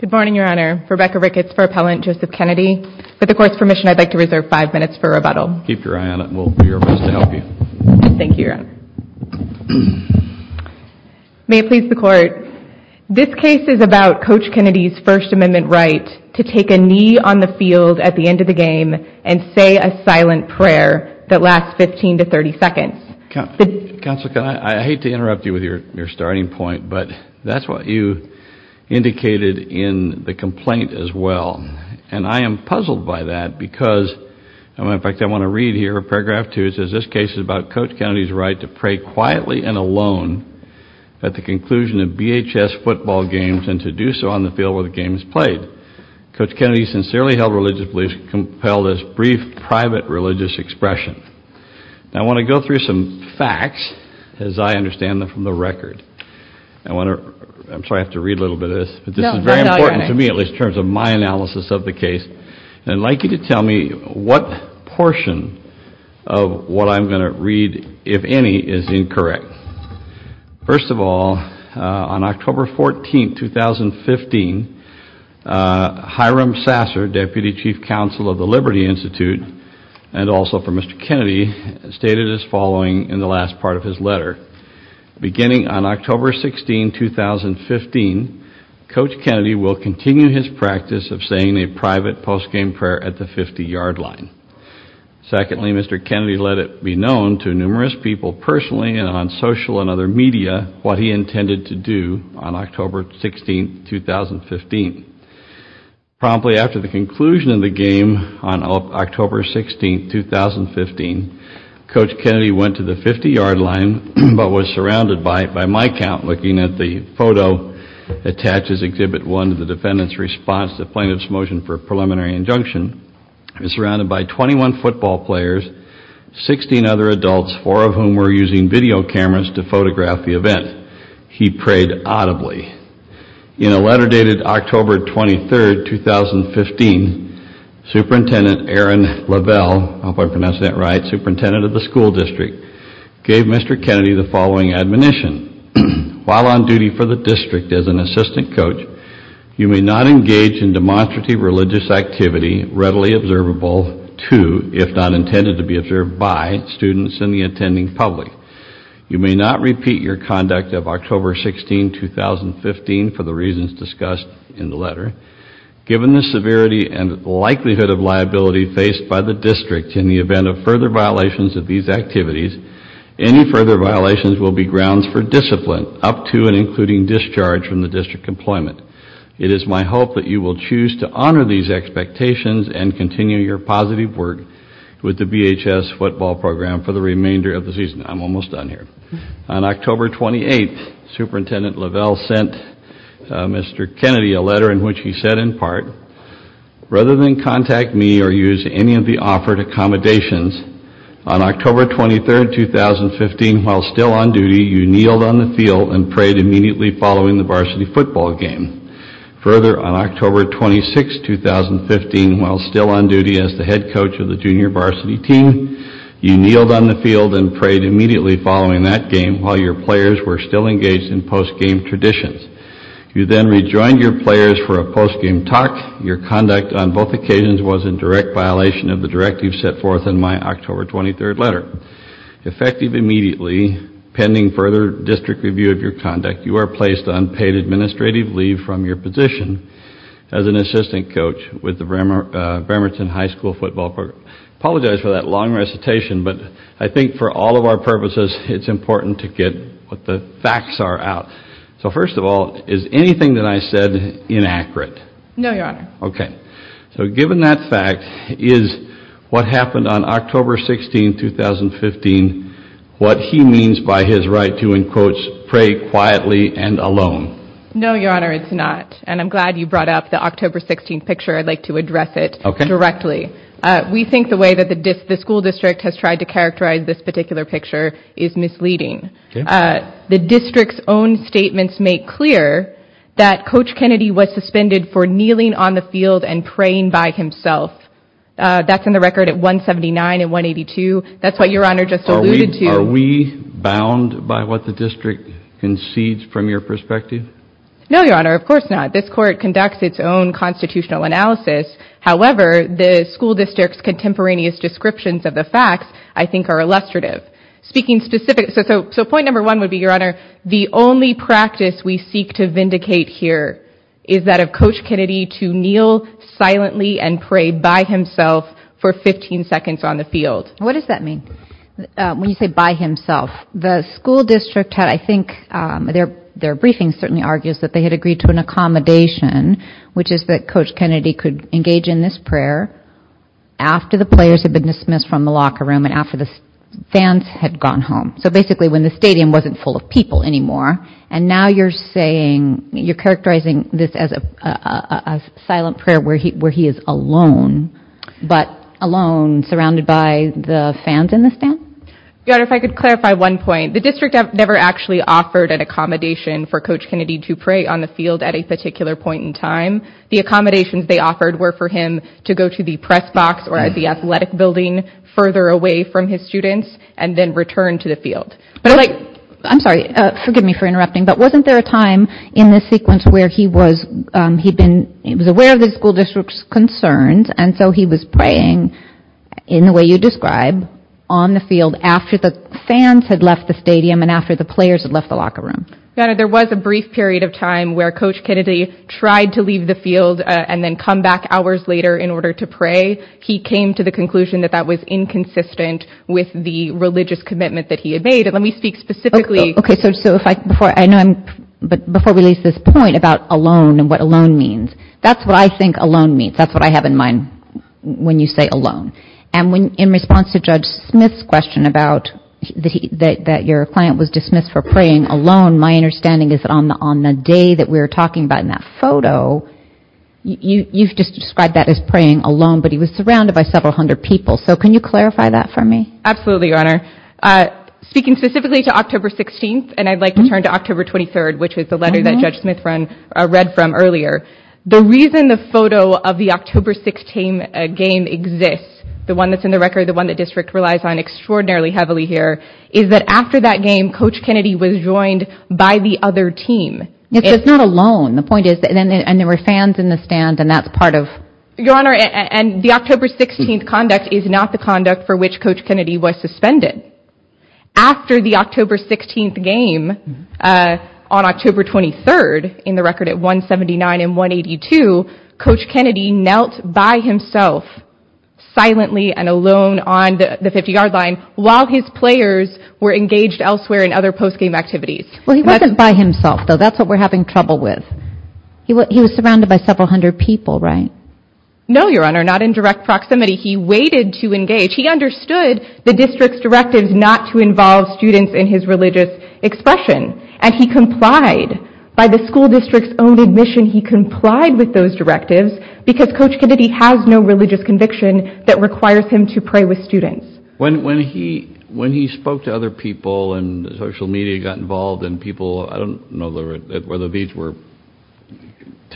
Good morning, Your Honor. Rebecca Ricketts for Appellant Joseph Kennedy. With the Court's permission, I'd like to reserve five minutes for rebuttal. Keep your eye on it. We'll do our best to help you. Thank you, Your Honor. May it please the Court, this case is about Coach Kennedy's First Amendment right to take a knee on the field at the end of the game and say a silent prayer that lasts 15 to 30 seconds. Counsel, I hate to interrupt you with your starting point, but that's what you indicated in the complaint as well, and I am puzzled by that because, in fact, I want to read here paragraph two. It says, this case is about Coach Kennedy's right to pray quietly and alone at the conclusion of BHS football games and to do so on the field where the game is played. Coach Kennedy sincerely held religious beliefs compel this brief private religious expression. I want to go through some and try to understand them from the record. I'm sorry, I have to read a little bit of this, but this is very important to me, at least in terms of my analysis of the case, and I'd like you to tell me what portion of what I'm going to read, if any, is incorrect. First of all, on October 14, 2015, Hiram Sasser, Deputy Chief Counsel of the Liberty Institute and also for Mr. Kennedy, stated as following in the last part of his letter, beginning on October 16, 2015, Coach Kennedy will continue his practice of saying a private postgame prayer at the 50-yard line. Secondly, Mr. Kennedy let it be known to numerous people personally and on social and other media what he intended to do on October 16, 2015. Promptly after the conclusion of the game on October 16, 2015, Coach Kennedy went to the 50-yard line but was surrounded by, by my count looking at the photo attached as Exhibit 1 to the defendant's response to the plaintiff's motion for a preliminary injunction. He was surrounded by 21 football players, 16 other adults, four of whom were using video cameras to photograph the event. He prayed audibly. In a letter dated October 23, 2015, Superintendent Aaron Lavelle, I hope I pronounced that right, Superintendent of the School District, gave Mr. Kennedy the following admonition. While on duty for the district as an assistant coach, you may not engage in demonstrative religious activity readily observable to, if not intended to be observed by, students in the attending public. You may not repeat your conduct of October 16, 2015, for the reasons discussed in the letter, given the severity and likelihood of liability faced by the district in the event of further violations of these activities. Any further violations will be grounds for discipline up to and including discharge from the district employment. It is my hope that you will choose to honor these expectations and continue your positive work with the VHS football program for the remainder of the season. I'm almost done here. On October 28, Superintendent Lavelle sent Mr. Kennedy a letter in which he said in part, rather than contact me or use any of the offered accommodations, on October 23, 2015, while still on duty, you kneeled on the field and prayed immediately following the varsity football game. Further, on October 26, 2015, while still on duty as the head coach of the junior varsity team, you kneeled on the field and prayed immediately following that game while your players were still engaged in postgame traditions. You then rejoined your players for a postgame talk. Your conduct on both occasions was in direct violation of the directives set forth in my October 23 letter. Effective immediately, pending further district review of your conduct, you are placed on paid administrative leave from your position as an assistant coach with the Bremerton High School football program. I apologize for that long recitation, but I think for all of our purposes it's important to get what the facts are out. So first of all, is anything that I said inaccurate? No, Your Honor. Okay, so given that fact, is what happened on October 16, 2015, what he means by his right to, in quotes, pray quietly and alone? No, Your Honor, it's not, and I'm glad you brought up the October 16 picture. I'd like to address it directly. We think the way that the school district has tried to characterize this particular picture is misleading. The district's own statements make clear that Coach Kennedy was suspended for kneeling on the field and praying by himself. That's in the record at 179 and 182. That's what Your Honor just alluded to. Are we bound by what the district concedes from your perspective? No, Your Honor, of course not. This court conducts its own constitutional analysis. However, the school district's contemporaneous descriptions of the facts, I think, are illustrative. Speaking specifically, so point number one would be, Your Honor, the only practice we seek to vindicate here is that of Coach Kennedy to kneel silently and pray by himself for 15 seconds on the field. What does that mean when you say by himself? The school district had, I think, their briefing certainly argues that they had agreed to an accommodation, which is that Coach Kennedy could engage in this prayer after the players had been dismissed from the locker room and after the fans had gone home. So basically when the stadium wasn't full of people anymore, and now you're saying, you're silent prayer where he is alone, but alone, surrounded by the fans in the stands? Your Honor, if I could clarify one point. The district never actually offered an accommodation for Coach Kennedy to pray on the field at a particular point in time. The accommodations they offered were for him to go to the press box or at the athletic building further away from his students and then return to the field. I'm sorry, forgive me for interrupting, but wasn't there a time in this sequence where he was aware of the school district's concerns and so he was praying in the way you describe on the field after the fans had left the stadium and after the players had left the locker room? Your Honor, there was a brief period of time where Coach Kennedy tried to leave the field and then come back hours later in order to pray. He came to the conclusion that that was inconsistent with the religious commitment that he had made. Let me speak specifically. Okay, so before I release this point about alone and what alone means, that's what I think alone means. That's what I have in mind when you say alone. And in response to Judge Smith's question about that your client was dismissed for praying alone, my understanding is that on the day that we were talking about in that photo, you've just described that as praying alone, but he was surrounded by several hundred people. So can you clarify that for me? Absolutely, Your Honor. Speaking specifically to October 16th, and I'd like to turn to October 23rd, which was the letter that Judge Smith read from earlier. The reason the photo of the October 16 game exists, the one that's in the record, the one that district relies on extraordinarily heavily here, is that after that game, Coach Kennedy was joined by the other team. It's not alone. The point is that there were fans in the stand and that's part of... Your coach Kennedy was suspended after the October 16th game. On October 23rd, in the record at 179 and 182, Coach Kennedy knelt by himself silently and alone on the 50 yard line while his players were engaged elsewhere in other postgame activities. Well he wasn't by himself, though. That's what we're having trouble with. He was surrounded by several hundred people, right? No, Your Honor. Not in direct proximity. He waited to engage. He understood the district's directives not to involve students in his religious expression and he complied. By the school district's own admission, he complied with those directives because Coach Kennedy has no religious conviction that requires him to pray with students. When when he when he spoke to other people and social media got involved and people I don't know whether these were,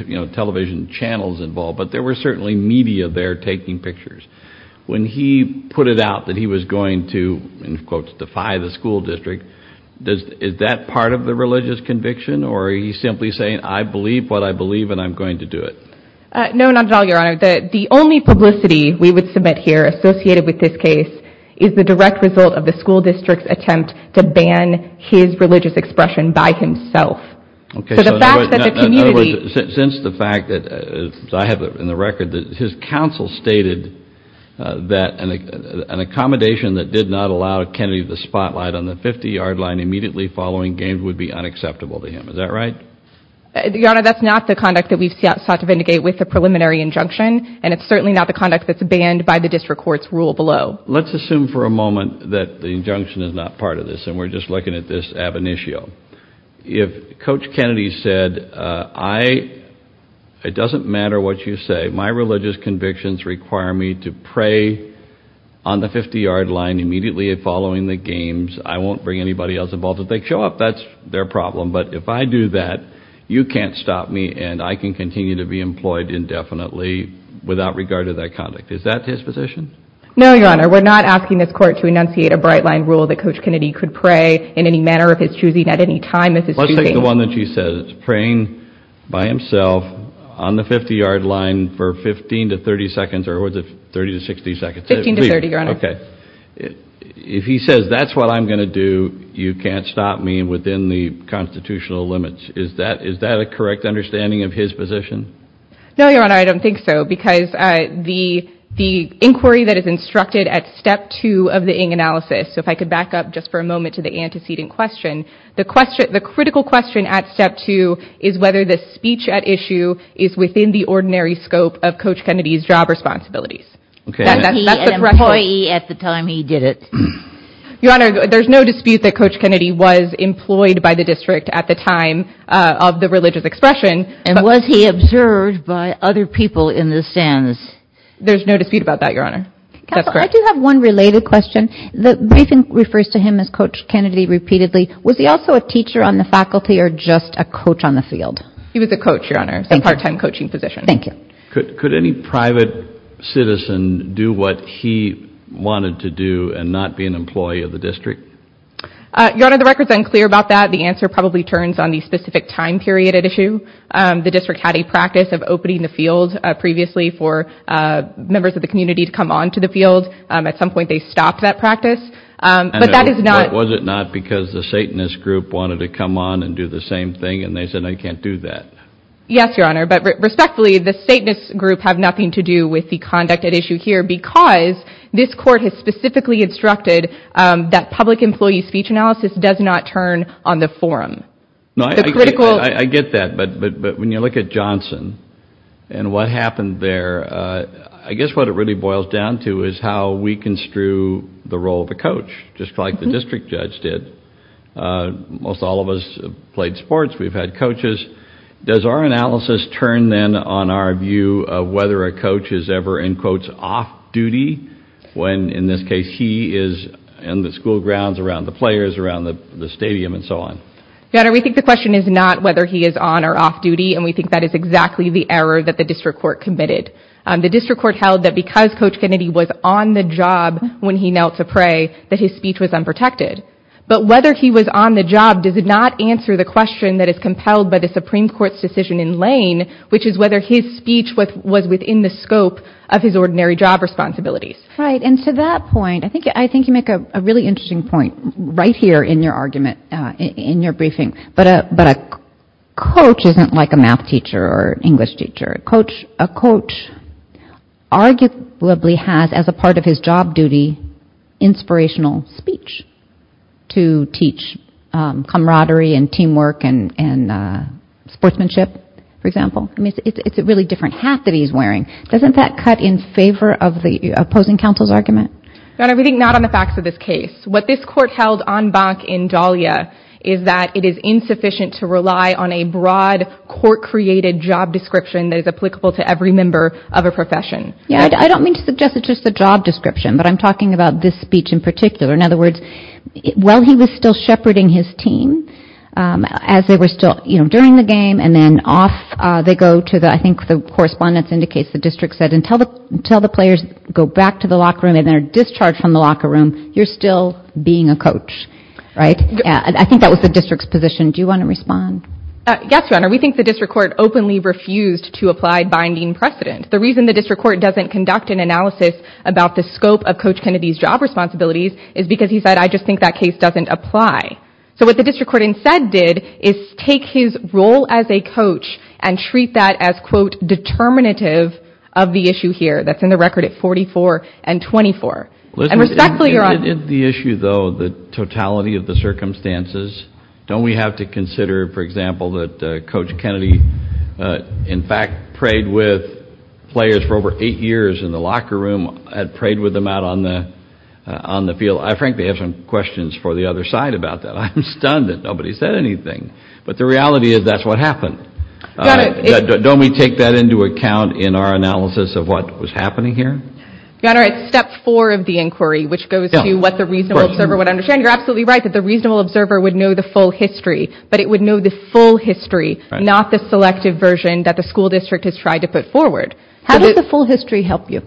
you know, television channels involved, but there were certainly media there taking pictures. When he put it out that he was going to, in quotes, defy the school district, is that part of the religious conviction or are you simply saying I believe what I believe and I'm going to do it? No, not at all, Your Honor. The only publicity we would submit here associated with this case is the direct result of the school district's attempt to ban his religious expression by himself. Okay, so in other words, since the fact that I have in the record that his counsel stated that an accommodation that did not allow Kennedy the spotlight on the 50-yard line immediately following games would be unacceptable to him. Is that right? Your Honor, that's not the conduct that we've sought to vindicate with a preliminary injunction and it's certainly not the conduct that's banned by the district court's rule below. Let's assume for a moment that the injunction is not part of this and we're just looking at this ab initio. If Coach Kennedy said, it doesn't matter what you say, my religious convictions require me to pray on the 50 yard line immediately following the games, I won't bring anybody else involved. If they show up, that's their problem, but if I do that, you can't stop me and I can continue to be employed indefinitely without regard to that conduct. Is that his position? No, Your Honor. We're not asking this court to enunciate a prayer in any manner of his choosing at any time of his choosing. Let's take the one that she says, praying by himself on the 50-yard line for 15 to 30 seconds or was it 30 to 60 seconds? 15 to 30, Your Honor. Okay. If he says that's what I'm going to do, you can't stop me within the constitutional limits. Is that a correct understanding of his position? No, Your Honor, I don't think so because the inquiry that is instructed at step two of the Ng analysis, so if I could back up just for a minute to the antecedent question, the critical question at step two is whether the speech at issue is within the ordinary scope of Coach Kennedy's job responsibilities. Was he an employee at the time he did it? Your Honor, there's no dispute that Coach Kennedy was employed by the district at the time of the religious expression. And was he observed by other people in the stands? There's no dispute about that, Your Honor. I do have one related question. The briefing refers to him as Coach Kennedy repeatedly. Was he also a teacher on the faculty or just a coach on the field? He was a coach, Your Honor, a part-time coaching position. Thank you. Could any private citizen do what he wanted to do and not be an employee of the district? Your Honor, the record's unclear about that. The answer probably turns on the specific time period at issue. The district had a practice of opening the field previously for members of the but that is not... Was it not because the Satanist group wanted to come on and do the same thing and they said I can't do that? Yes, Your Honor, but respectfully the Satanist group have nothing to do with the conduct at issue here because this court has specifically instructed that public employee speech analysis does not turn on the forum. No, I get that, but when you look at Johnson and what happened there, I guess what it really boils down to is how we construe the role of a coach, just like the district judge did. Most all of us played sports. We've had coaches. Does our analysis turn then on our view of whether a coach is ever in quotes off-duty when in this case he is in the school grounds, around the players, around the stadium, and so on? Your Honor, we think the question is not whether he is on or off duty and we think that is exactly the error that the district court committed. The district court held that because Coach Kennedy was on the job when he knelt to pray that his speech was unprotected, but whether he was on the job does not answer the question that is compelled by the Supreme Court's decision in Lane, which is whether his speech was within the scope of his ordinary job responsibilities. Right, and to that point, I think you make a really interesting point right here in your argument, in your briefing, but a coach isn't like a math teacher or as a part of his job duty, inspirational speech to teach camaraderie and teamwork and sportsmanship, for example. I mean, it's a really different hat that he's wearing. Doesn't that cut in favor of the opposing counsel's argument? Your Honor, we think not on the facts of this case. What this court held en banc in Dahlia is that it is insufficient to rely on a broad court-created job description that is applicable to every member of a profession. Yeah, I don't mean to suggest a job description, but I'm talking about this speech in particular. In other words, while he was still shepherding his team, as they were still, you know, during the game and then off they go to the, I think the correspondence indicates the district said, until the players go back to the locker room and they're discharged from the locker room, you're still being a coach, right? I think that was the district's position. Do you want to respond? Yes, Your Honor. We think the court doesn't conduct an analysis about the scope of Coach Kennedy's job responsibilities is because he said, I just think that case doesn't apply. So what the district court instead did is take his role as a coach and treat that as, quote, determinative of the issue here that's in the record at 44 and 24. And respectfully, Your Honor. Isn't the issue, though, the totality of the circumstances? Don't we have to consider, for example, that Coach Kennedy, in fact, prayed with players for over eight years in the locker room and prayed with them out on the on the field. I frankly have some questions for the other side about that. I'm stunned that nobody said anything, but the reality is that's what happened. Don't we take that into account in our analysis of what was happening here? Your Honor, it's step four of the inquiry, which goes to what the reasonable observer would understand. You're absolutely right that the reasonable observer would know the full history, but it would know the full history that the school district has tried to put forward. How does the full history help you?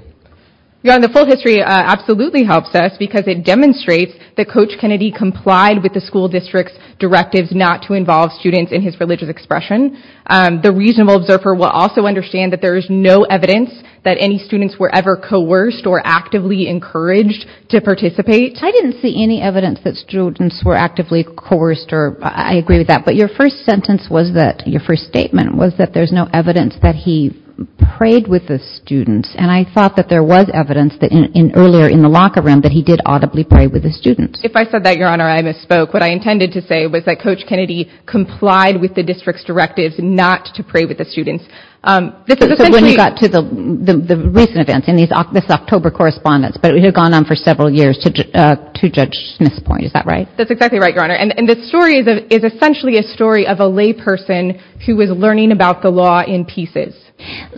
Your Honor, the full history absolutely helps us because it demonstrates that Coach Kennedy complied with the school district's directives not to involve students in his religious expression. The reasonable observer will also understand that there is no evidence that any students were ever coerced or actively encouraged to participate. I didn't see any evidence that students were actively coerced, or I agree with that, but your first sentence was that, your first statement was that there's no evidence that he prayed with the students, and I thought that there was evidence that in earlier in the locker room that he did audibly pray with the students. If I said that, Your Honor, I misspoke. What I intended to say was that Coach Kennedy complied with the district's directives not to pray with the students. So when you got to the recent events in this October correspondence, but it had gone on for several years to judge Smith's point, is that right? That's exactly right, Your Honor, and the story is essentially a story of a layperson who was learning about the law in pieces.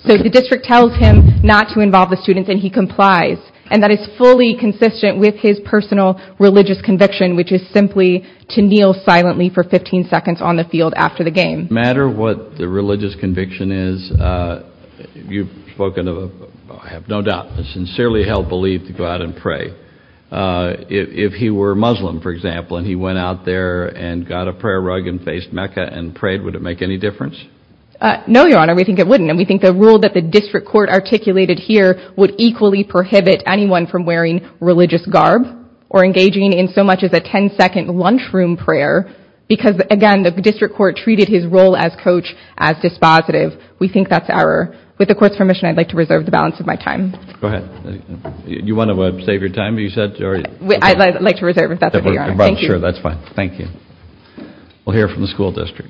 So the district tells him not to involve the students and he complies, and that is fully consistent with his personal religious conviction, which is simply to kneel silently for 15 seconds on the field after the game. No matter what the religious conviction is, you've spoken of, I have no doubt, a sincerely held belief to go out and pray. If he were Muslim, for example, and he went out there and got a prayer rug and faced Mecca and prayed, would it make any difference? No, Your Honor, we think it wouldn't, and we think the rule that the district court articulated here would equally prohibit anyone from wearing religious garb or engaging in so much as a 10-second lunchroom prayer because, again, the district court treated his role as coach as dispositive. We think that's error. With the court's permission, I'd like to reserve the balance of my time. Go ahead. You want to save your time, you said? I'd like to reserve if that's okay, Your Honor. I'm sure that's fine. Thank you. We'll hear from the school district.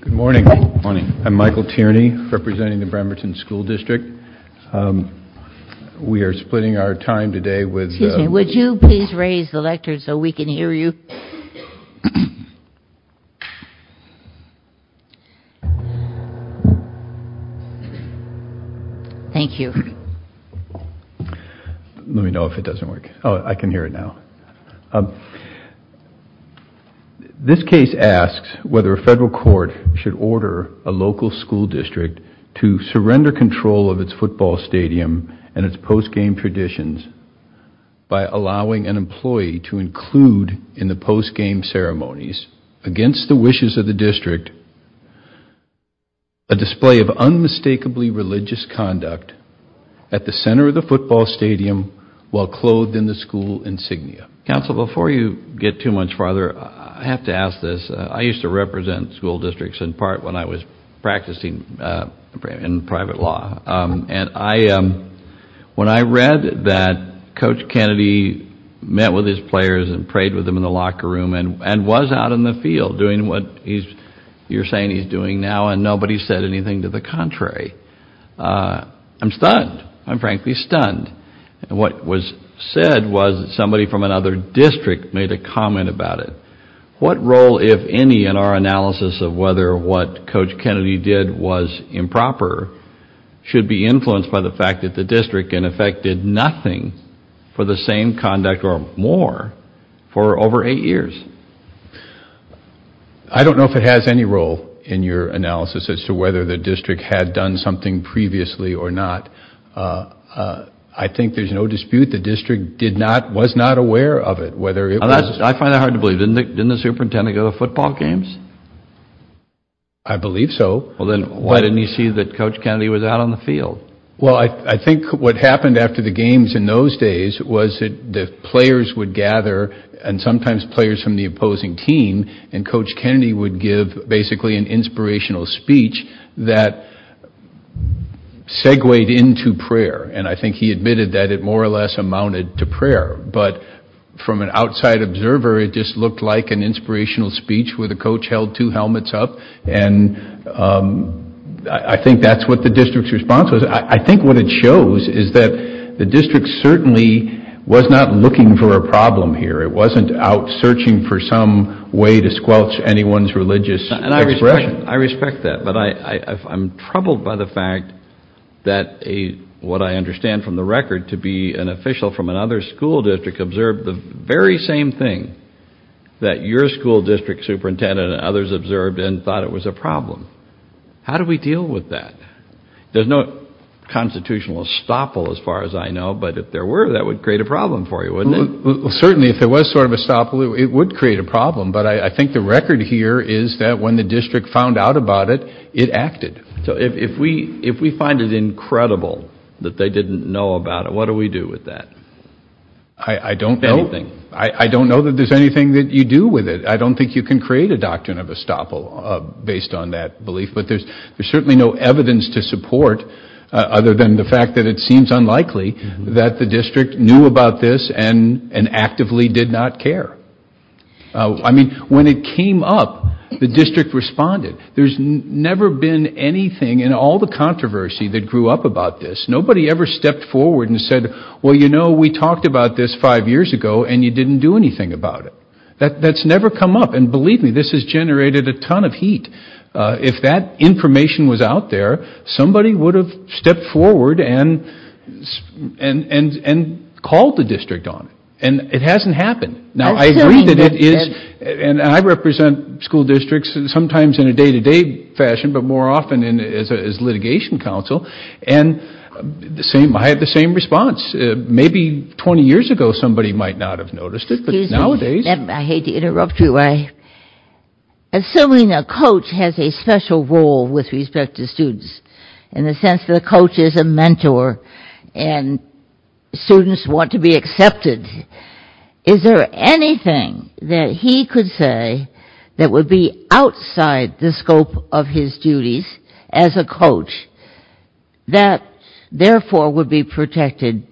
Good morning. I'm Michael Tierney, representing the Bremerton School District. We are splitting our time today with... Excuse me, would you please raise the mic? I can't hear you. Thank you. Let me know if it doesn't work. Oh, I can hear it now. This case asks whether a federal court should order a local school district to surrender control of its football stadium and its postgame traditions by allowing an employee to include in the postgame ceremonies, against the wishes of the district, a display of unmistakably religious conduct at the center of the football stadium while clothed in the school insignia. Counsel, before you get too much farther, I have to ask this. I used to represent school districts in part when I was practicing in private law, and when I read that Coach Kennedy met with his players and prayed with them in the locker room and was out in the field doing what you're saying he's doing now, and nobody said anything to the contrary, I'm stunned. I'm frankly stunned. And what was said was somebody from another district made a comment about it. What role, if any, in our analysis of whether what Coach Kennedy did was improper should be nothing for the same conduct or more for over eight years? I don't know if it has any role in your analysis as to whether the district had done something previously or not. I think there's no dispute the district did not, was not aware of it, whether it was... I find that hard to believe. Didn't the superintendent go to football games? I believe so. Well then why didn't you see that Coach Kennedy was out on the games in those days was that the players would gather, and sometimes players from the opposing team, and Coach Kennedy would give basically an inspirational speech that segued into prayer, and I think he admitted that it more or less amounted to prayer, but from an outside observer it just looked like an inspirational speech where the coach held two helmets up, and I think that's what the district's response was. I think what it shows is that the district certainly was not looking for a problem here. It wasn't out searching for some way to squelch anyone's religious expression. I respect that, but I'm troubled by the fact that what I understand from the record to be an official from another school district observed the very same thing that your school district superintendent and others observed and thought it was a problem. There's no constitutional estoppel as far as I know, but if there were, that would create a problem for you, wouldn't it? Well certainly if there was sort of estoppel, it would create a problem, but I think the record here is that when the district found out about it, it acted. So if we if we find it incredible that they didn't know about it, what do we do with that? I don't know. I don't know that there's anything that you do with it. I don't think you can create a doctrine of estoppel based on that belief, but there's there's support other than the fact that it seems unlikely that the district knew about this and and actively did not care. I mean when it came up, the district responded. There's never been anything in all the controversy that grew up about this. Nobody ever stepped forward and said, well you know we talked about this five years ago and you didn't do anything about it. That's never come up and believe me this has generated a ton of heat. If that information was out there, somebody would have stepped forward and and and called the district on it and it hasn't happened. Now I agree that it is and I represent school districts sometimes in a day-to-day fashion, but more often in as litigation counsel and the same I had the same response. Maybe 20 years ago somebody might not have noticed it, but nowadays. I hate to interrupt you. Assuming a coach has a special role with respect to students in the sense of the coach is a mentor and students want to be accepted, is there anything that he could say that would be outside the scope of his duties as a coach that therefore would be protected?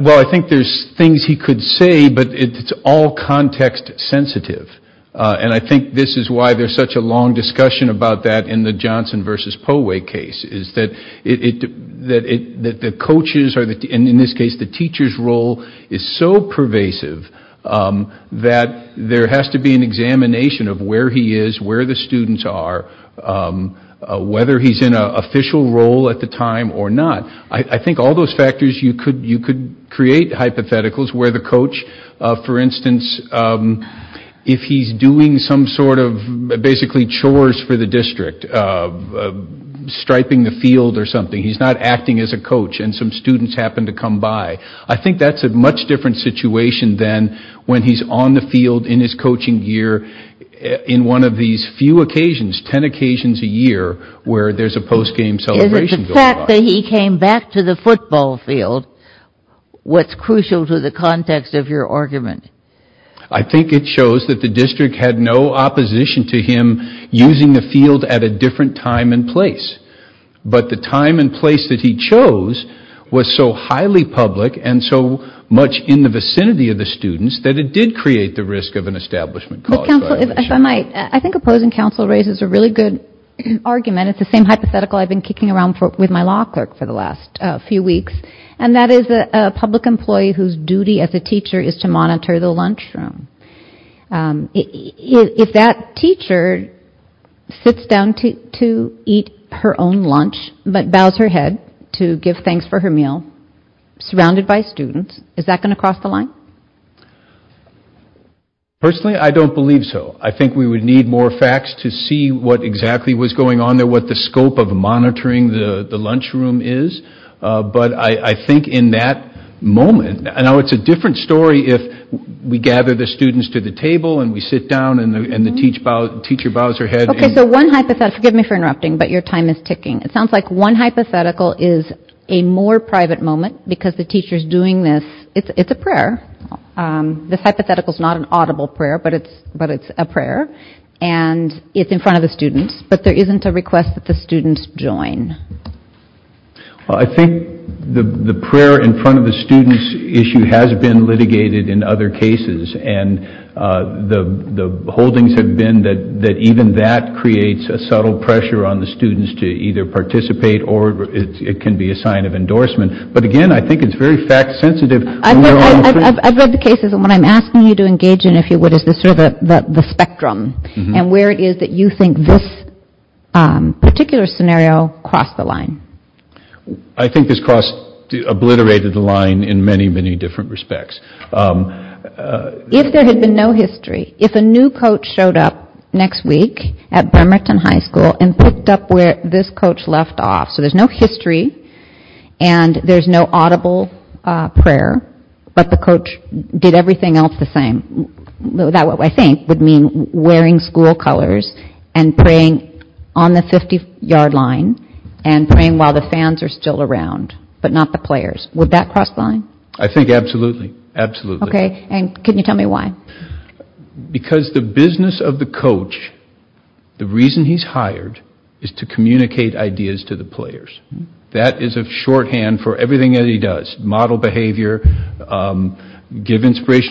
Well I think there's things he could say, but it's all context sensitive and I think this is why there's such a long discussion about that in the Johnson versus Poehwe case is that it that it that the coaches are that in this case the teacher's role is so pervasive that there has to be an examination of where he is, where the students are, whether he's in a official role at the time or not. I think all those factors you could you could create hypotheticals where the coach, for instance, if he's doing some sort of basically chores for the district, striping the field or something, he's not acting as a coach and some students happen to come by. I think that's a much different situation than when he's on the field in his coaching gear in one of these few occasions, ten occasions a year, where there's a postgame celebration. The fact that he came back to the football field, what's crucial to the context of your argument? I think it shows that the district had no opposition to him using the field at a different time and place, but the time and place that he chose was so highly public and so much in the vicinity of the students that it did create the risk of an establishment. I think opposing counsel raises a really good argument. It's the same hypothetical I've been around with my law clerk for the last few weeks, and that is a public employee whose duty as a teacher is to monitor the lunchroom. If that teacher sits down to eat her own lunch but bows her head to give thanks for her meal, surrounded by students, is that going to cross the line? Personally, I don't believe so. I think we would need more facts to see what exactly was going on there, what the scope of monitoring the the lunchroom is, but I think in that moment, I know it's a different story if we gather the students to the table and we sit down and the teacher bows her head. Okay, so one hypothetical, forgive me for interrupting, but your time is ticking. It sounds like one hypothetical is a more private moment because the teacher's doing this, it's a prayer. This hypothetical is not an audible prayer, but it's a student's, but there isn't a request that the students join. Well, I think the prayer in front of the students issue has been litigated in other cases, and the holdings have been that even that creates a subtle pressure on the students to either participate or it can be a sign of endorsement, but again, I think it's very fact-sensitive. I've read the cases, and what I'm asking you to engage in, if you would, is sort of the spectrum and where it is that you think this particular scenario crossed the line. I think this cross obliterated the line in many, many different respects. If there had been no history, if a new coach showed up next week at Bremerton High School and picked up where this coach left off, so there's no history and there's no audible prayer, but the coach did everything else the same. That, what I think, would mean wearing school colors and praying on the 50-yard line and praying while the fans are still around, but not the players. Would that cross the line? I think absolutely, absolutely. Okay, and can you tell me why? Because the business of the coach, the reason he's hired, is to communicate ideas to the players. That is a shorthand for everything that he does, model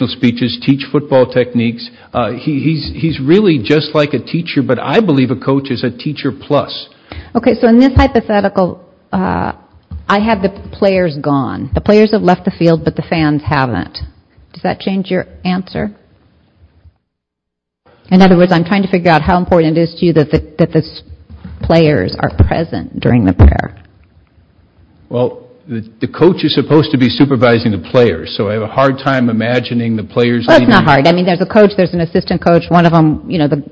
speeches, teach football techniques. He's really just like a teacher, but I believe a coach is a teacher plus. Okay, so in this hypothetical, I have the players gone. The players have left the field, but the fans haven't. Does that change your answer? In other words, I'm trying to figure out how important it is to you that the players are present during the prayer. Well, the coach is supposed to be questioning the players. Well, it's not hard. I mean, there's a coach, there's an assistant coach, one of them, you know, the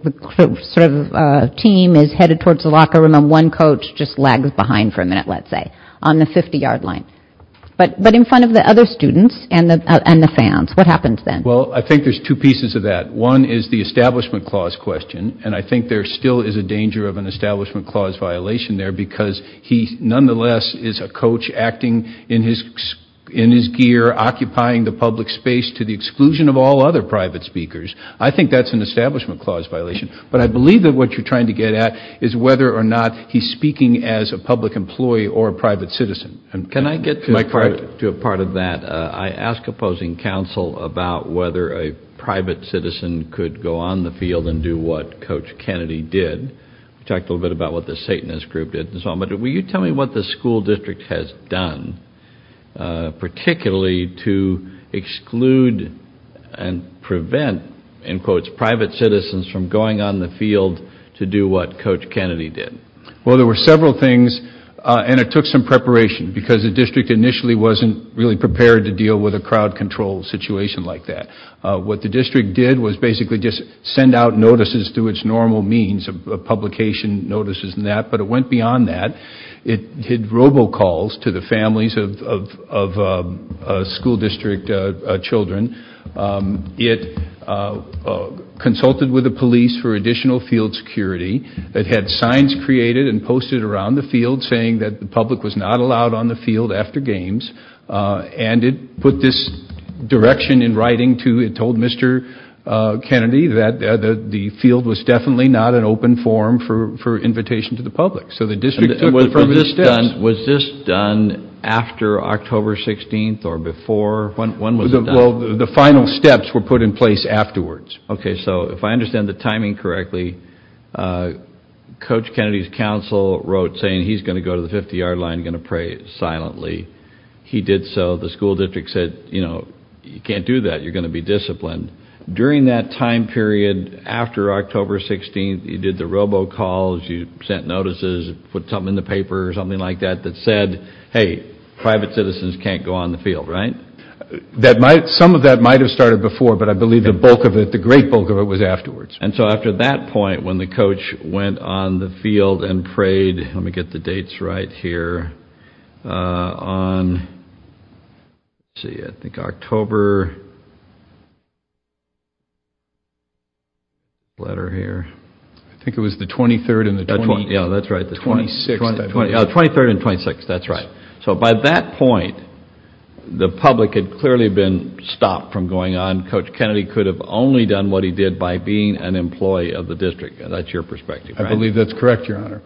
sort of team is headed towards the locker room and one coach just lags behind for a minute, let's say, on the 50-yard line. But, but in front of the other students and the fans, what happens then? Well, I think there's two pieces of that. One is the Establishment Clause question, and I think there still is a danger of an Establishment Clause violation there because he nonetheless is a coach acting in his gear, occupying the public space to the exclusion of all other private speakers. I think that's an Establishment Clause violation, but I believe that what you're trying to get at is whether or not he's speaking as a public employee or a private citizen. Can I get to a part of that? I asked opposing counsel about whether a private citizen could go on the field and do what Coach Kennedy did. We talked a little bit about what the Satanist Group did, but will you tell me what the school district has done, particularly to exclude and prevent, in quotes, private citizens from going on the field to do what Coach Kennedy did? Well, there were several things, and it took some preparation because the district initially wasn't really prepared to deal with a crowd control situation like that. What the district did was basically just send out notices through its normal means of publication, notices and that, but it went beyond that. It did robocalls to the families of school district children. It consulted with the police for additional field security. It had signs created and posted around the field saying that the public was not allowed on the field after games, and it put this direction in writing to, it told Mr. Kennedy that the field was definitely not an open forum for invitation to the public. So the district took the first steps. Was this done after October 16th or before? Well, the final steps were put in place afterwards. Okay, so if I understand the timing correctly, Coach Kennedy's counsel wrote saying he's going to go to the 50-yard line, going to pray silently. He did so. The school district said, you know, you can't do that. You're going to be disciplined. During that time period after October 16th, you did the robocalls, you sent notices, put something in the paper or something like that that said, hey, private citizens can't go on the field, right? That might, some of that might have started before, but I believe the bulk of it, the great bulk of it was afterwards. And so after that point, when the coach went on the field and prayed, let me get the dates right here, on, let's see, I think October, letter here. I think it was the 23rd and the 26th. Yeah, that's right, the 23rd and 26th, that's right. So by that point, the public had clearly been stopped from going on. Coach Kennedy could have only done what he did by being an employee of the district. That's your perspective, right? I believe that's correct, Your Honor.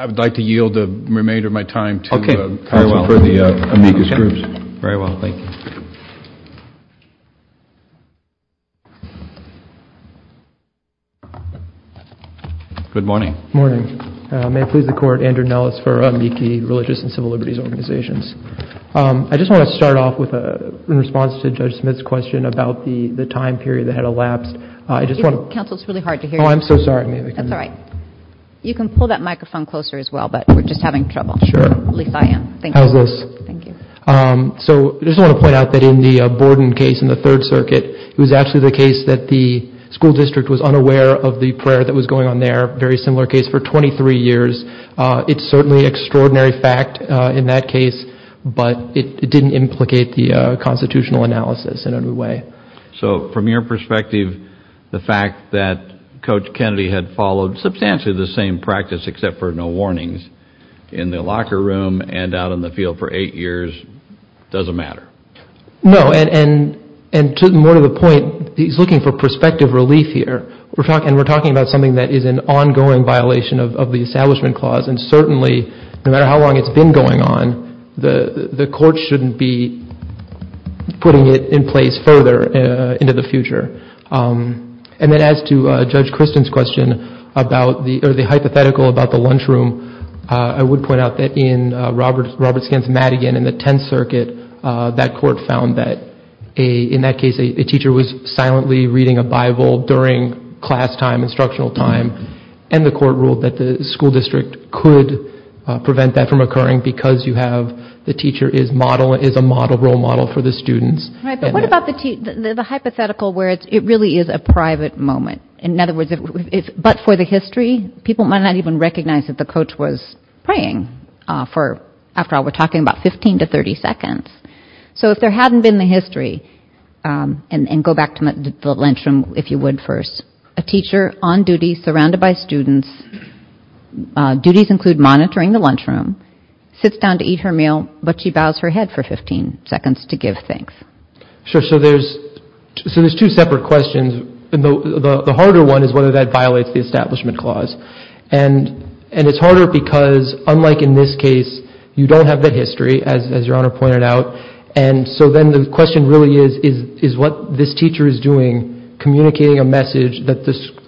I would like to yield the remainder of my time to counsel for the amicus group. Very well, thank you. Good morning. Good morning. May it please the court, Andrew Nellis for amici, religious and civil liberties organizations. I just want to start off with, in response to Judge Smith's question about the time period that had elapsed, I just want to... Counsel, it's really hard to hear you. Oh, I'm so sorry. You can pull that microphone closer as well, but we're just having trouble. Sure. How's this? So I just want to point out that in the Borden case in the Third Circuit, it was actually the case that the school district was unaware of the prayer that was going on there. Very similar case for 23 years. It's certainly extraordinary fact in that case, but it didn't implicate the constitutional analysis in any way. So from your perspective, the fact that substantially the same practice except for no warnings in the locker room and out in the field for eight years doesn't matter. No, and to more to the point, he's looking for prospective relief here. We're talking about something that is an ongoing violation of the Establishment Clause, and certainly, no matter how long it's been going on, the court shouldn't be putting it in place further into the future. And then as to Judge Christen's hypothetical about the lunchroom, I would point out that in Robert Scant's Madigan in the Tenth Circuit, that court found that in that case, a teacher was silently reading a Bible during class time, instructional time, and the court ruled that the school district could prevent that from occurring because the teacher is a role model for the students. Right, but what about the hypothetical where it really is a private moment? In other words, but for the history, people might not even recognize that the coach was praying for, after all, we're talking about 15 to 30 seconds. So if there hadn't been the history, and go back to the lunchroom, if you would, first, a teacher on duty, surrounded by students, duties include monitoring the lunchroom, sits down to eat her meal, but she bows her head for 15 seconds to give thanks. Sure, so there's two separate questions, and the harder one is whether that violates the Establishment Clause. And it's harder because, unlike in this case, you don't have the history, as Your Honor pointed out, and so then the question really is what this teacher is doing, communicating a message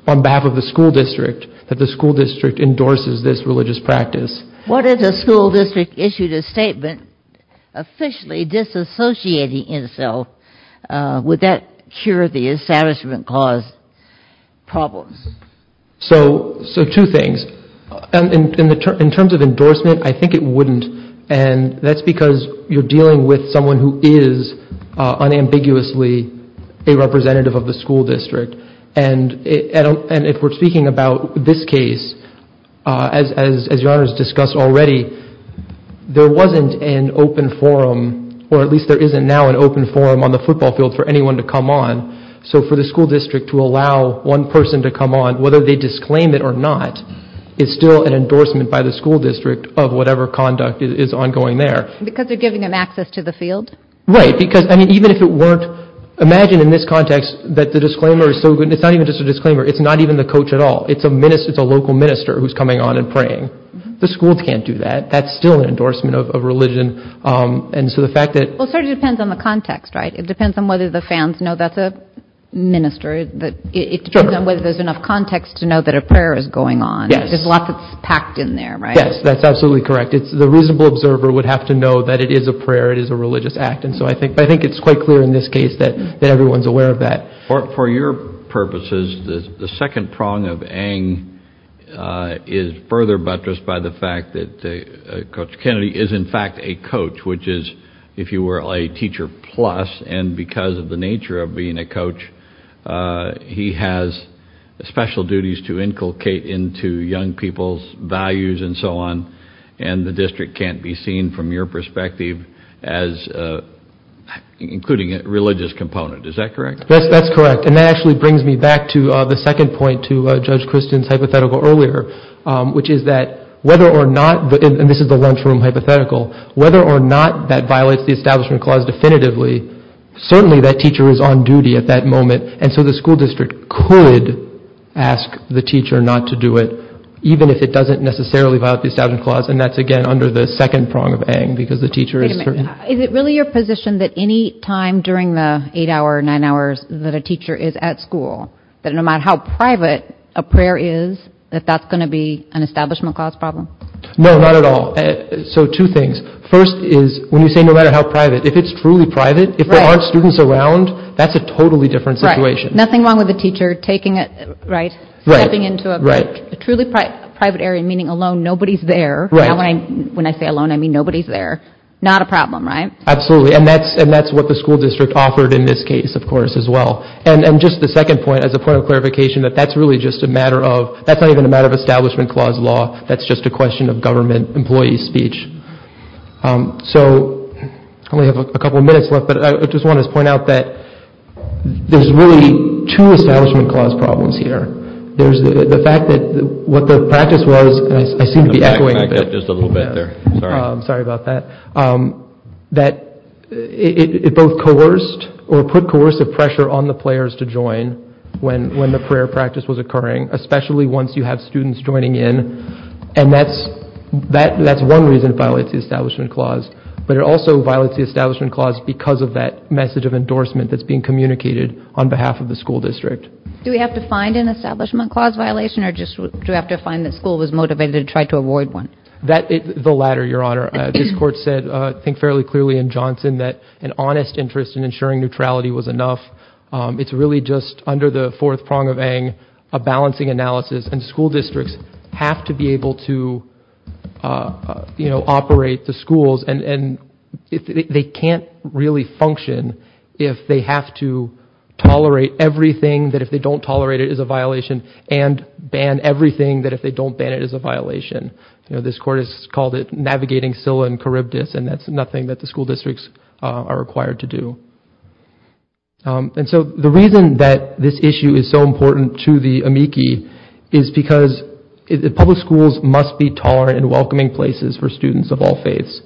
on behalf of the school district, that the school district endorses this religious practice. What if the school district issued a statement officially disassociating itself, would that cure the Establishment Clause problems? So two things. In terms of endorsement, I think it wouldn't, and that's because you're dealing with someone who is unambiguously a representative of the school district, and if we're speaking about this case, as Your Honor has discussed already, there wasn't an open forum, or at least there isn't now an open forum on the So for the school district to allow one person to come on, whether they disclaim it or not, is still an endorsement by the school district of whatever conduct is ongoing there. Because they're giving them access to the field? Right, because I mean, even if it weren't, imagine in this context that the disclaimer is so good, it's not even just a disclaimer, it's not even the coach at all, it's a local minister who's coming on and praying. The schools can't do that, that's still an endorsement of religion, and so the fact that... Well, it sort of depends on the context, right? It depends on whether the fans know that's a minister, it depends on whether there's enough context to know that a prayer is going on. There's a lot that's packed in there, right? Yes, that's absolutely correct. It's the reasonable observer would have to know that it is a prayer, it is a religious act, and so I think it's quite clear in this case that everyone's aware of that. For your purposes, the second prong of Ng is further buttressed by the fact that Coach Kennedy is in fact a coach, which is, if you were a teacher plus, and because of the nature of being a coach, he has special duties to inculcate into young people's values and so on, and the district can't be seen from your perspective as including a religious component, is that correct? Yes, that's correct, and that actually brings me back to the second point to Judge Christian's hypothetical earlier, which is that whether or not, and this is the lunchroom hypothetical, whether or not that violates the Establishment Clause definitively, certainly that teacher is on duty at that moment, and so the school district could ask the teacher not to do it, even if it doesn't necessarily violate the Establishment Clause, and that's again under the second prong of Ng, because the teacher is certain. Is it really your position that any time during the eight hour, nine hours that a teacher is at school, that no matter how private a prayer is, that that's going to be an issue? No, not at all. So two things. First is when you say no matter how private, if it's truly private, if there aren't students around, that's a totally different situation. Nothing wrong with the teacher taking it, right, stepping into a truly private area, meaning alone, nobody's there, right, when I say alone, I mean nobody's there, not a problem, right? Absolutely, and that's what the school district offered in this case, of course, as well, and just the second point, as a point of clarification, that that's really just a matter of, that's not even a matter of Establishment Clause law, that's just a question of government employee speech. So, I only have a couple of minutes left, but I just want to point out that there's really two Establishment Clause problems here. There's the fact that what the practice was, and I seem to be echoing a bit, I got just a little bit there, sorry, sorry about that, that it both coerced or put coercive pressure on the players to join when the prayer practice was that, that's one reason it violates the Establishment Clause, but it also violates the Establishment Clause because of that message of endorsement that's being communicated on behalf of the school district. Do we have to find an Establishment Clause violation, or just do we have to find that school was motivated to try to avoid one? That, the latter, Your Honor. This court said, think fairly clearly in Johnson, that an honest interest in ensuring neutrality was enough. It's really just under the fourth prong of Ng, a balancing analysis, and you know, operate the schools, and if they can't really function if they have to tolerate everything that if they don't tolerate it is a violation, and ban everything that if they don't ban it is a violation. You know, this court has called it navigating Scylla and Charybdis, and that's nothing that the school districts are required to do. And so the reason that this issue is so important is that it's a very important issue for the school district to ensure that the schools are in welcoming places for students of all faiths.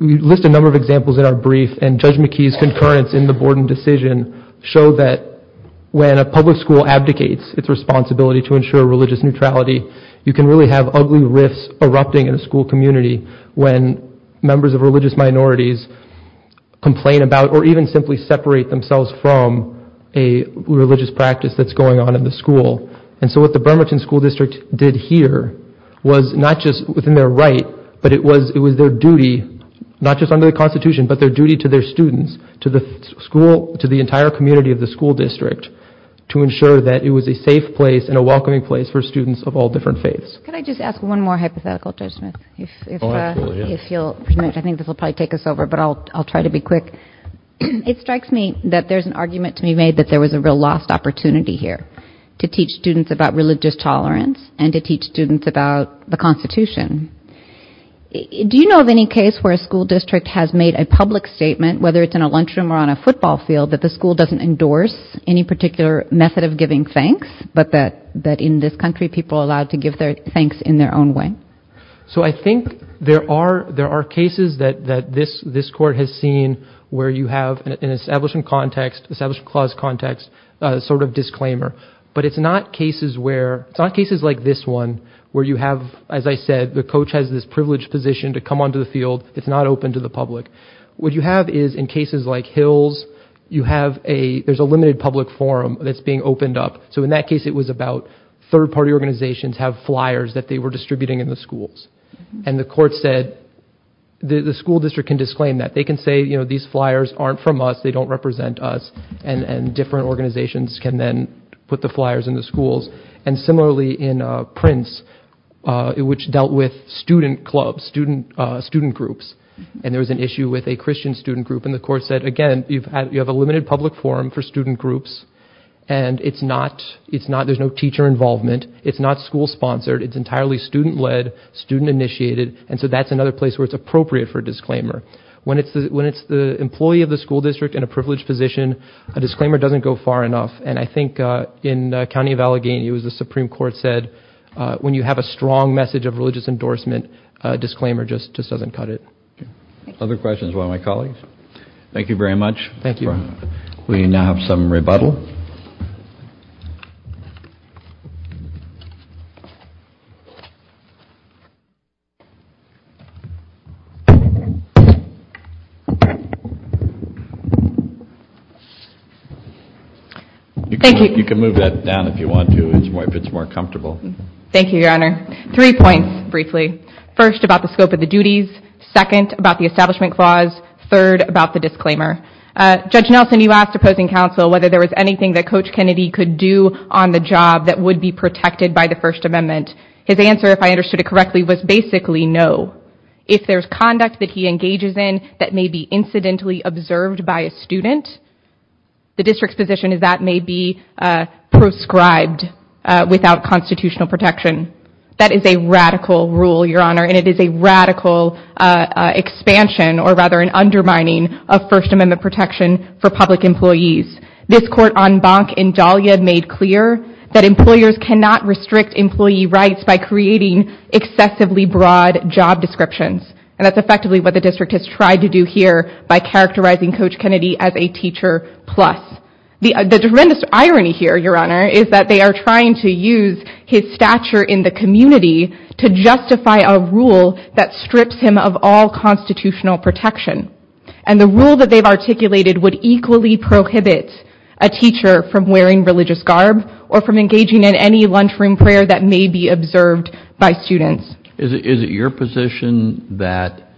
We list a number of examples in our brief, and Judge McKee's concurrence in the Borden decision showed that when a public school abdicates its responsibility to ensure religious neutrality, you can really have ugly rifts erupting in a school community when members of religious minorities complain about, or even simply separate themselves from, a religious practice that's going on in the school. And so what the Bremerton School District did here was not just within their right, but it was it was their duty, not just under the Constitution, but their duty to their students, to the school, to the entire community of the school district, to ensure that it was a safe place and a welcoming place for students of all different faiths. Can I just ask one more hypothetical, Judge Smith? I think this will probably take us over, but I'll try to be quick. It strikes me that there's an argument to be made that there was a lost opportunity here to teach students about religious tolerance and to teach students about the Constitution. Do you know of any case where a school district has made a public statement, whether it's in a lunchroom or on a football field, that the school doesn't endorse any particular method of giving thanks, but that in this country people are allowed to give their thanks in their own way? So I think there are cases that this court has seen where you have an Establishment Context, Establishment Clause Context sort of disclaimer, but it's not cases where, it's not cases like this one, where you have, as I said, the coach has this privileged position to come onto the field, it's not open to the public. What you have is, in cases like Hills, you have a, there's a limited public forum that's being opened up, so in that case it was about third party organizations have flyers that they were distributing in the schools, and the court said the school district can disclaim that. They can say, you know, these flyers aren't from us, they don't represent us, and different organizations can then put the flyers in the schools. And similarly in Prince, which dealt with student clubs, student groups, and there was an issue with a Christian student group, and the court said, again, you have a limited public forum for student groups, and it's not, it's not, there's no teacher involvement, it's not school-sponsored, it's entirely student-led, student-initiated, and so that's another place where it's appropriate for a disclaimer. When it's the employee of the school district in a privileged position, a disclaimer doesn't go far enough, and I think in County of Allegheny, it was the Supreme Court said, when you have a strong message of religious endorsement, a disclaimer just doesn't cut it. Other questions, one of my colleagues? Thank you very much. Thank you. We now have some rebuttal. Thank you. You can move that down if you want to, if it's more comfortable. Thank you, Your Honor. Three points, briefly. First, about the scope of the duties. Second, about the establishment clause. Third, about the disclaimer. Judge Nelson, you asked opposing counsel whether there was anything that Coach Kennedy could do on the job that would be protected by the First Amendment. His answer, if I understood it correctly, was basically no. If there's conduct that he engages in that may be incidentally observed by a student, the district's position is that may be proscribed without constitutional protection. That is a radical rule, Your Honor, and it is a radical expansion, or rather an undermining, of First Amendment protection for public employees. This court en banc in Dahlia made clear that employers cannot restrict employee rights by creating excessively broad job descriptions, and that's effectively what the district has tried to do here by characterizing Coach Kennedy as a teacher plus. The tremendous irony here, Your Honor, is that they are trying to use his stature in the community to justify a rule that strips him of all constitutional protection, and the rule that they've articulated would equally prohibit a teacher from wearing religious garb or from engaging in any lunchroom prayer that may be observed by a student. Could you imagine that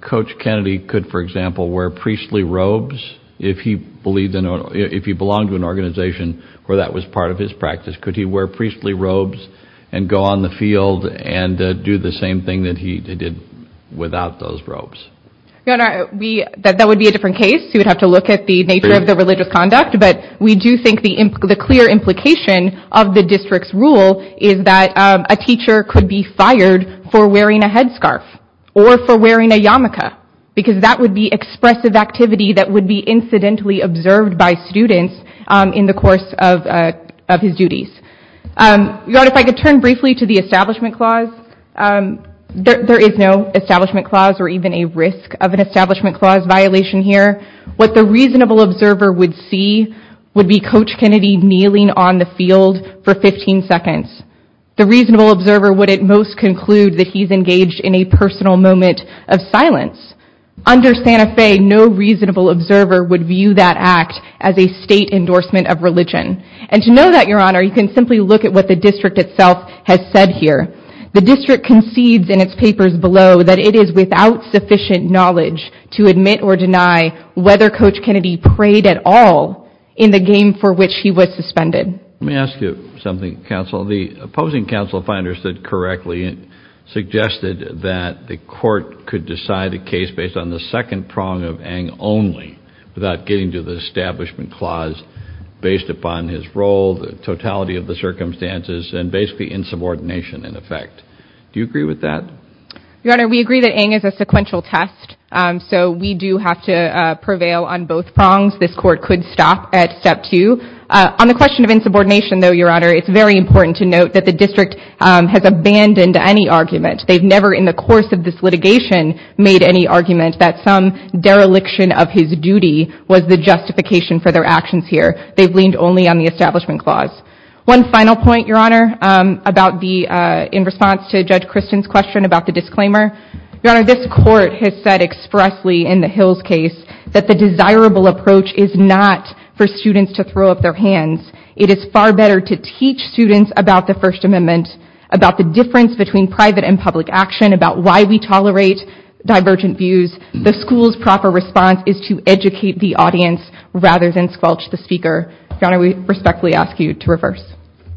Coach Kennedy could, for example, wear priestly robes if he believed in or if he belonged to an organization where that was part of his practice? Could he wear priestly robes and go on the field and do the same thing that he did without those robes? Your Honor, that would be a different case. You would have to look at the nature of the religious conduct, but we do think the clear implication of the district's rule is that a headscarf or for wearing a yarmulke, because that would be expressive activity that would be incidentally observed by students in the course of his duties. Your Honor, if I could turn briefly to the Establishment Clause. There is no Establishment Clause or even a risk of an Establishment Clause violation here. What the reasonable observer would see would be Coach Kennedy kneeling on the field for 15 seconds. The reasonable observer would at most conclude that he's engaged in a personal moment of silence. Under Santa Fe, no reasonable observer would view that act as a state endorsement of religion. And to know that, Your Honor, you can simply look at what the district itself has said here. The district concedes in its papers below that it is without sufficient knowledge to admit or deny whether Coach Kennedy prayed at all in the game for which he was suspended. Let me ask you something, Counsel. The opposing counsel finally understood correctly and suggested that the court could decide a case based on the second prong of Ng only without getting to the Establishment Clause based upon his role, the totality of the circumstances, and basically insubordination in effect. Do you agree with that? Your Honor, we agree that Ng is a sequential test, so we do have to prevail on both prongs. This court could stop at step two. On the question of insubordination, though, Your Honor, it's very important to note that the district has abandoned any argument. They've never, in the course of this litigation, made any argument that some dereliction of his duty was the justification for their actions here. They've leaned only on the Establishment Clause. One final point, Your Honor, in response to Judge Kristen's question about the disclaimer. Your Honor, this court has said expressly in the Hills case that the desirable approach is not for students about the First Amendment, about the difference between private and public action, about why we tolerate divergent views. The school's proper response is to educate the audience rather than squelch the speaker. Your Honor, we respectfully ask you to reverse.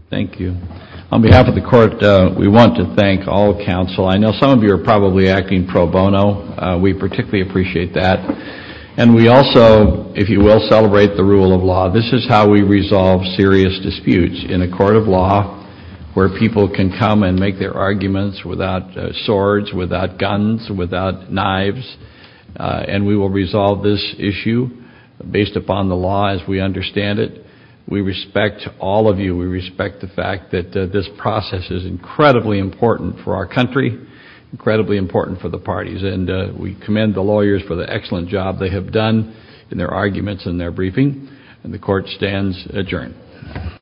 Thank you. On behalf of the court, we want to thank all counsel. I know some of you are probably acting pro bono. We particularly appreciate that, and we also, if you will, celebrate the rule of law. This is how we resolve serious disputes in a court of law, where people can come and make their arguments without swords, without guns, without knives, and we will resolve this issue based upon the law as we understand it. We respect all of you. We respect the fact that this process is incredibly important for our country, incredibly important for the parties, and we commend the lawyers for the excellent job they have done in their arguments and their briefing, and the court stands adjourned.